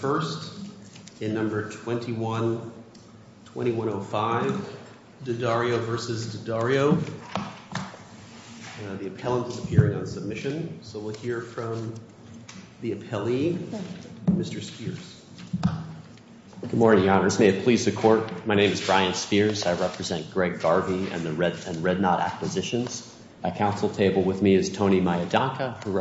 The appellant is appearing on submission, so we'll hear from the appellee, Mr. Spears. Good morning, Your Honors. May it please the Court, my name is Brian Spears. I represent Greg Garvey and Red Knot Acquisitions. At counsel table with me is Tony Maidaka, who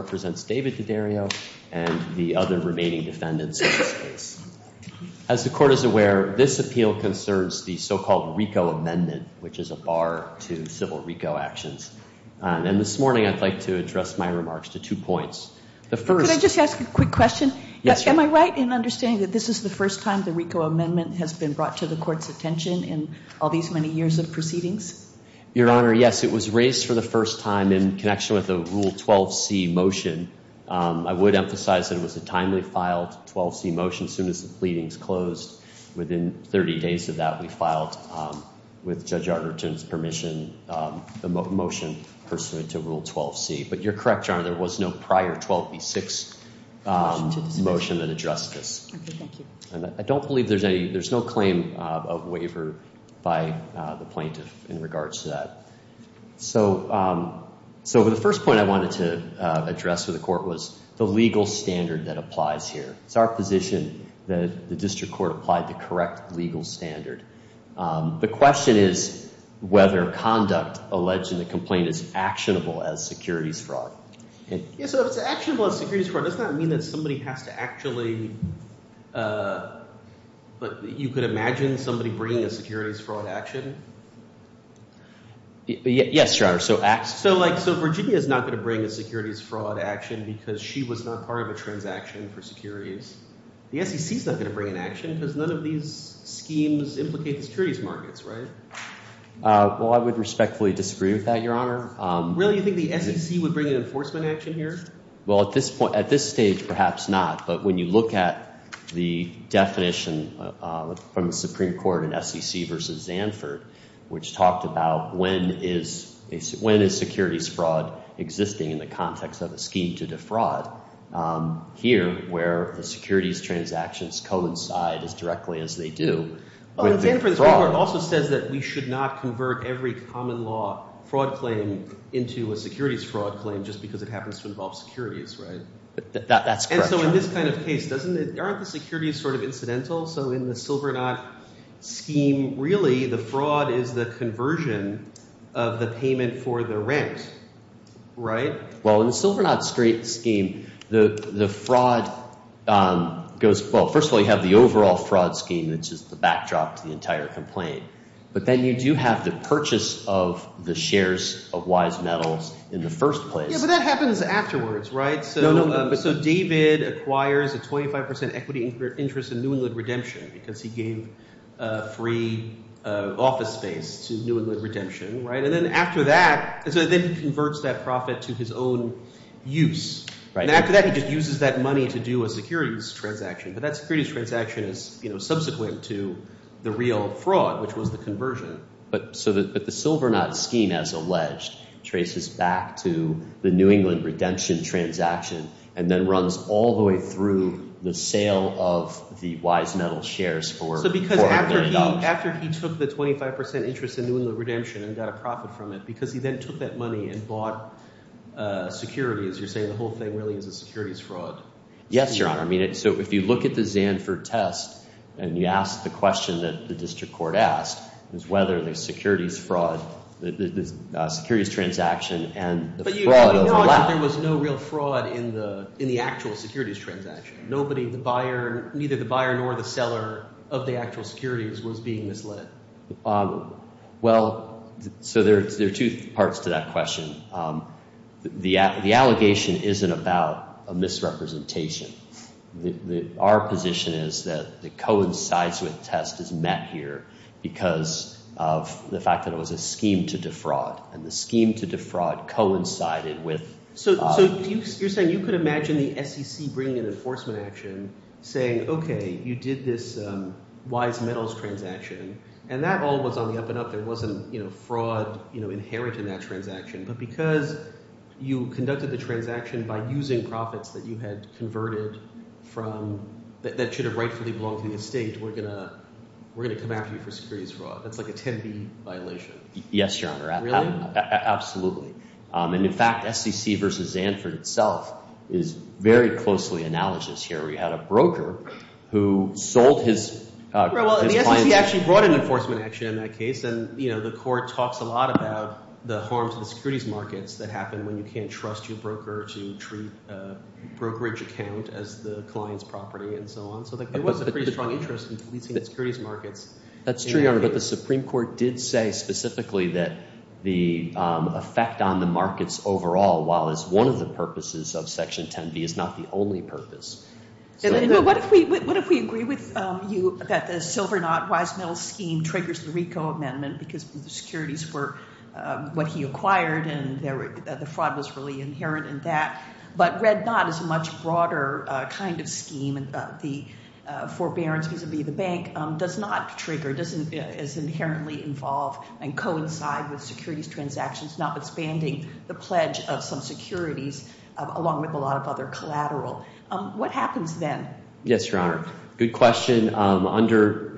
As the Court is aware, this appeal concerns the so-called RICO Amendment, which is a bar to civil RICO actions. And this morning, I'd like to address my remarks to two points. The first... Could I just ask a quick question? Yes, Your Honor. Am I right in understanding that this is the first time the RICO Amendment has been brought to the Court's attention in all these many years of proceedings? Your Honor, yes, it was raised for the first time in connection with a Rule 12c motion. I would emphasize that it was a timely filed 12c motion as soon as the pleadings closed. Within 30 days of that, we filed, with Judge Arnerton's permission, the motion pursuant to Rule 12c. But you're correct, Your Honor, there was no prior 12b6 motion that addressed this. I don't believe there's no claim of waiver by the plaintiff in regards to that. So the first point I wanted to address with the Court was the legal standard that applies here. It's our position that the District Court applied the correct legal standard. The question is whether conduct alleged in the complaint is actionable as securities fraud. So if it's actionable as securities fraud, does that mean that somebody has to actually... You could imagine somebody bringing a securities fraud action? Yes, Your Honor. So Virginia is not going to bring a securities fraud action because she was not part of a transaction for securities. The SEC is not going to bring an action because none of these schemes implicate the securities markets, right? Well, I would respectfully disagree with that, Your Honor. Really? You think the SEC would bring an enforcement action here? Well, at this stage, perhaps not. But when you look at the definition from the Supreme Court in SEC v. Zanford, which talked about when is securities fraud existing in the context of a scheme to defraud, here, where the securities transactions coincide as directly as they do... Well, in Zanford, the Supreme Court also says that we should not convert every common law fraud claim into a securities fraud claim just because it happens to involve securities, right? That's correct, Your Honor. And so in this kind of case, aren't the securities sort of incidental? So in the Silvernot scheme, really the fraud is the conversion of the payment for the rent, right? Well, in the Silvernot scheme, the fraud goes – well, first of all, you have the overall fraud scheme, which is the backdrop to the entire complaint. But then you do have the purchase of the shares of Wise Metals in the first place. Yeah, but that happens afterwards, right? So David acquires a 25 percent equity interest in New England Redemption because he gave free office space to New England Redemption, right? And then after that – so then he converts that profit to his own use. And after that, he just uses that money to do a securities transaction. But that securities transaction is subsequent to the real fraud, which was the conversion. But the Silvernot scheme, as alleged, traces back to the New England Redemption transaction and then runs all the way through the sale of the Wise Metals shares for $30. So after he took the 25 percent interest in New England Redemption and got a profit from it because he then took that money and bought securities, you're saying the whole thing really is a securities fraud? Yes, Your Honor. I mean so if you look at the Zanford test and you ask the question that the district court asked is whether the securities fraud – the securities transaction and the fraud overlap. But you acknowledge that there was no real fraud in the actual securities transaction. Neither the buyer nor the seller of the actual securities was being misled. Well, so there are two parts to that question. The allegation isn't about a misrepresentation. Our position is that the coincides with test is met here because of the fact that it was a scheme to defraud. And the scheme to defraud coincided with – saying, okay, you did this Wise Metals transaction, and that all was on the up and up. There wasn't fraud inherent in that transaction. But because you conducted the transaction by using profits that you had converted from – that should have rightfully belonged to the estate, we're going to come after you for securities fraud. That's like a 10B violation. Yes, Your Honor. Really? Absolutely. And, in fact, SEC versus Zanford itself is very closely analogous here. We had a broker who sold his – Well, and the SEC actually brought an enforcement action in that case. And the court talks a lot about the harms of the securities markets that happen when you can't trust your broker to treat a brokerage account as the client's property and so on. So there was a pretty strong interest in policing the securities markets. That's true, Your Honor. But the Supreme Court did say specifically that the effect on the markets overall, while it's one of the purposes of Section 10B, is not the only purpose. What if we agree with you that the Silvernot-Wise Metals scheme triggers the RICO amendment because the securities were what he acquired and the fraud was really inherent in that. But Red Knot is a much broader kind of scheme. The forbearance, because it would be the bank, does not trigger, doesn't as inherently involve and coincide with securities transactions, notwithstanding the pledge of some securities along with a lot of other collateral. What happens then? Yes, Your Honor. Good question. Under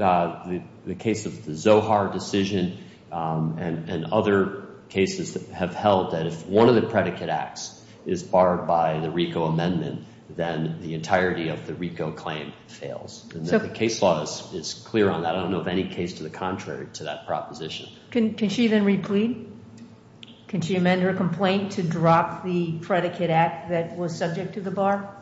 the case of the Zohar decision and other cases that have held that if one of the predicate acts is barred by the RICO amendment, then the entirety of the RICO claim fails. The case law is clear on that. I don't know of any case to the contrary to that proposition. Can she then replead? Can she amend her complaint to drop the predicate act that was subject to the bar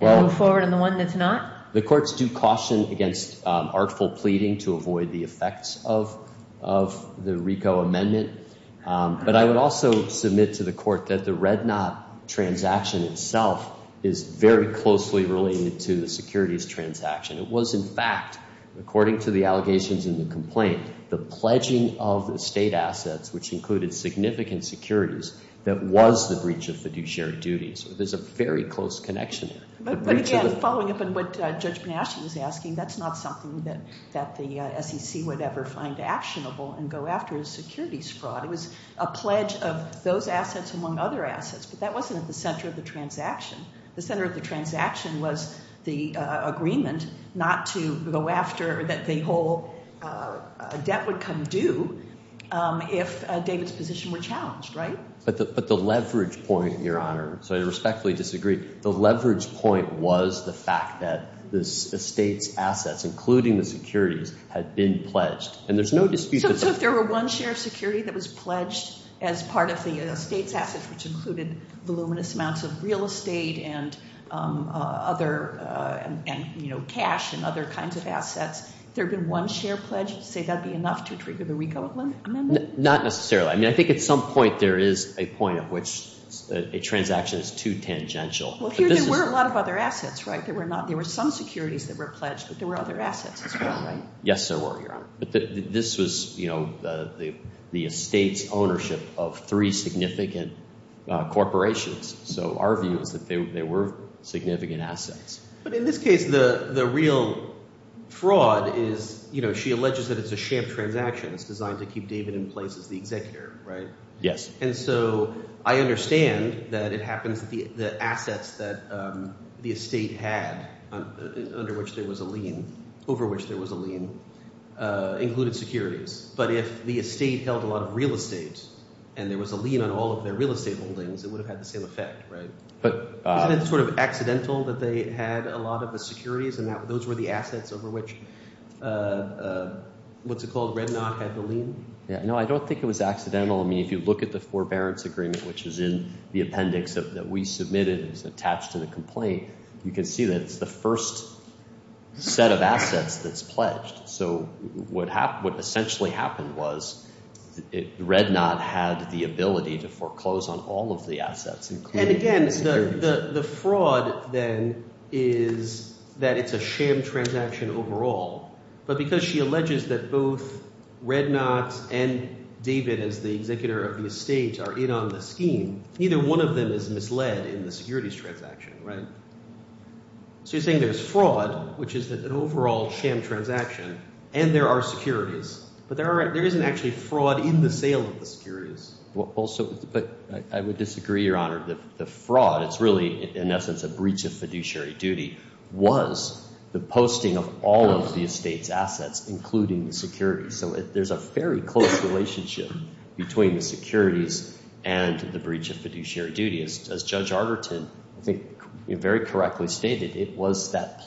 and move forward on the one that's not? The courts do caution against artful pleading to avoid the effects of the RICO amendment. But I would also submit to the court that the Red Knot transaction itself is very closely related to the securities transaction. It was, in fact, according to the allegations in the complaint, the pledging of the state assets, which included significant securities, that was the breach of fiduciary duties. There's a very close connection there. But again, following up on what Judge Panasci was asking, that's not something that the SEC would ever find actionable and go after is securities fraud. It was a pledge of those assets among other assets. But that wasn't at the center of the transaction. The center of the transaction was the agreement not to go after that the whole debt would come due if David's position were challenged, right? But the leverage point, Your Honor, so I respectfully disagree. The leverage point was the fact that the state's assets, including the securities, had been pledged. And there's no dispute. So if there were one share of security that was pledged as part of the state's assets, which included voluminous amounts of real estate and cash and other kinds of assets, if there had been one share pledged, you'd say that would be enough to trigger the RICO amendment? Not necessarily. I mean, I think at some point there is a point at which a transaction is too tangential. Well, here there were a lot of other assets, right? There were some securities that were pledged, but there were other assets as well, right? Yes, there were, Your Honor. But this was the estate's ownership of three significant corporations. So our view is that there were significant assets. But in this case, the real fraud is she alleges that it's a sham transaction. It's designed to keep David in place as the executor, right? Yes. And so I understand that it happens that the assets that the estate had under which there was a lien, over which there was a lien, included securities. But if the estate held a lot of real estate and there was a lien on all of their real estate holdings, it would have had the same effect, right? Isn't it sort of accidental that they had a lot of the securities and those were the assets over which, what's it called, Red Knot had the lien? No, I don't think it was accidental. I mean, if you look at the forbearance agreement, which is in the appendix that we submitted, it's attached to the complaint. You can see that it's the first set of assets that's pledged. So what essentially happened was Red Knot had the ability to foreclose on all of the assets. And again, the fraud then is that it's a sham transaction overall. But because she alleges that both Red Knot and David as the executor of the estate are in on the scheme, neither one of them is misled in the securities transaction, right? So you're saying there's fraud, which is an overall sham transaction, and there are securities. But there isn't actually fraud in the sale of the securities. But I would disagree, Your Honor. The fraud, it's really in essence a breach of fiduciary duty, was the posting of all of the estate's assets, including the securities. So there's a very close relationship between the securities and the breach of fiduciary duty. As Judge Arterton, I think, very correctly stated, it was that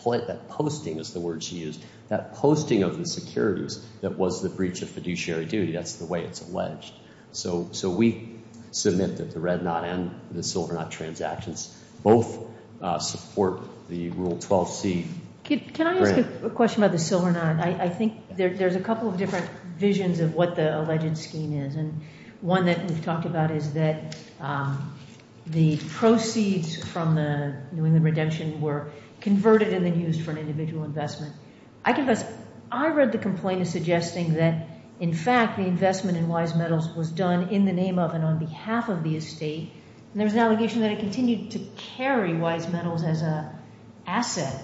posting, is the word she used, that posting of the securities that was the breach of fiduciary duty. That's the way it's alleged. So we submit that the Red Knot and the Silver Knot transactions both support the Rule 12c grant. Can I ask a question about the Silver Knot? I think there's a couple of different visions of what the alleged scheme is. And one that we've talked about is that the proceeds from the New England Redemption were converted and then used for an individual investment. I read the complaint as suggesting that, in fact, the investment in Wise Metals was done in the name of and on behalf of the estate. And there was an allegation that it continued to carry Wise Metals as an asset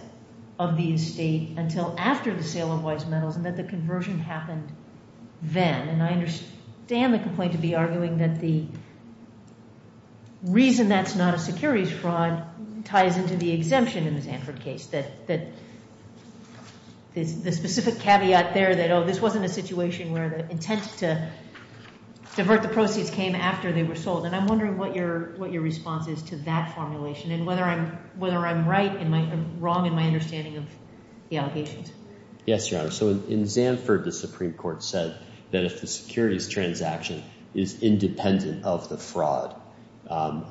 of the estate until after the sale of Wise Metals and that the conversion happened then. And I understand the complaint to be arguing that the reason that's not a securities fraud ties into the exemption in the Sanford case. The specific caveat there that, oh, this wasn't a situation where the intent to divert the proceeds came after they were sold. And I'm wondering what your response is to that formulation and whether I'm right or wrong in my understanding of the allegations. Yes, Your Honor. So in Sanford, the Supreme Court said that if the securities transaction is independent of the fraud,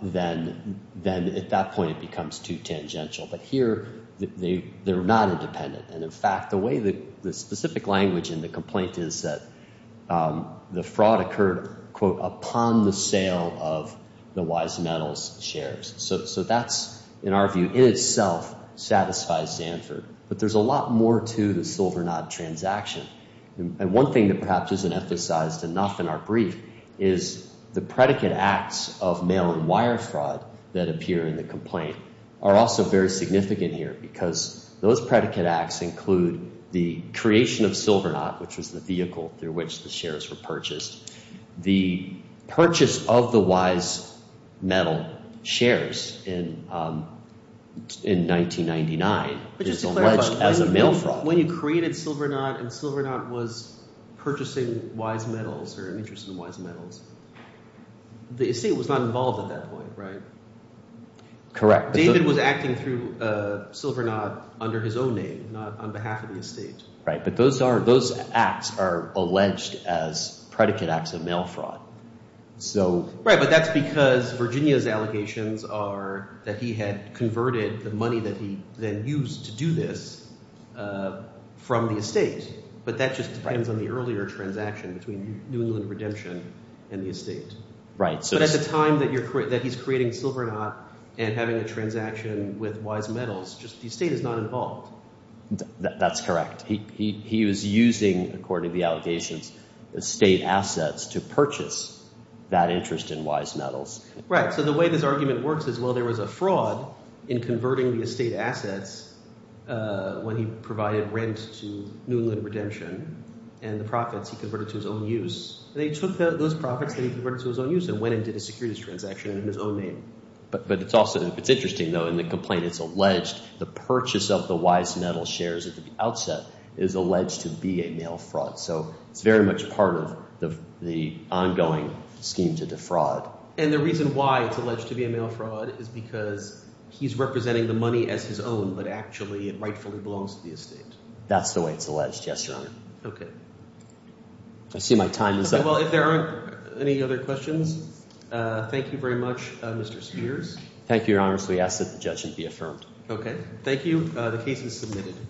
then at that point it becomes too tangential. But here they're not independent. And, in fact, the way that the specific language in the complaint is that the fraud occurred, quote, upon the sale of the Wise Metals shares. So that's, in our view, in itself satisfies Sanford. But there's a lot more to the Silvernod transaction. And one thing that perhaps isn't emphasized enough in our brief is the predicate acts of mail and wire fraud that appear in the complaint are also very significant here because those predicate acts include the creation of Silvernod, which was the vehicle through which the shares were purchased. The purchase of the Wise Metal shares in 1999 is alleged as a mail fraud. So when you created Silvernod and Silvernod was purchasing Wise Metals or an interest in Wise Metals, the estate was not involved at that point, right? Correct. David was acting through Silvernod under his own name, not on behalf of the estate. Right, but those are – those acts are alleged as predicate acts of mail fraud. Right, but that's because Virginia's allegations are that he had converted the money that he then used to do this from the estate. But that just depends on the earlier transaction between New England Redemption and the estate. Right. But at the time that he's creating Silvernod and having a transaction with Wise Metals, just the estate is not involved. That's correct. He was using, according to the allegations, estate assets to purchase that interest in Wise Metals. Right. So the way this argument works is, well, there was a fraud in converting the estate assets when he provided rent to New England Redemption and the profits he converted to his own use. They took those profits that he converted to his own use and went and did a securities transaction in his own name. But it's also – it's interesting though. In the complaint, it's alleged the purchase of the Wise Metals shares at the outset is alleged to be a mail fraud. So it's very much part of the ongoing scheme to defraud. And the reason why it's alleged to be a mail fraud is because he's representing the money as his own, but actually it rightfully belongs to the estate. That's the way it's alleged. Yes, Your Honor. Okay. I see my time is up. Well, if there aren't any other questions, thank you very much, Mr. Spears. Thank you, Your Honor. So we ask that the judge be affirmed. Okay. Thank you. The case is submitted.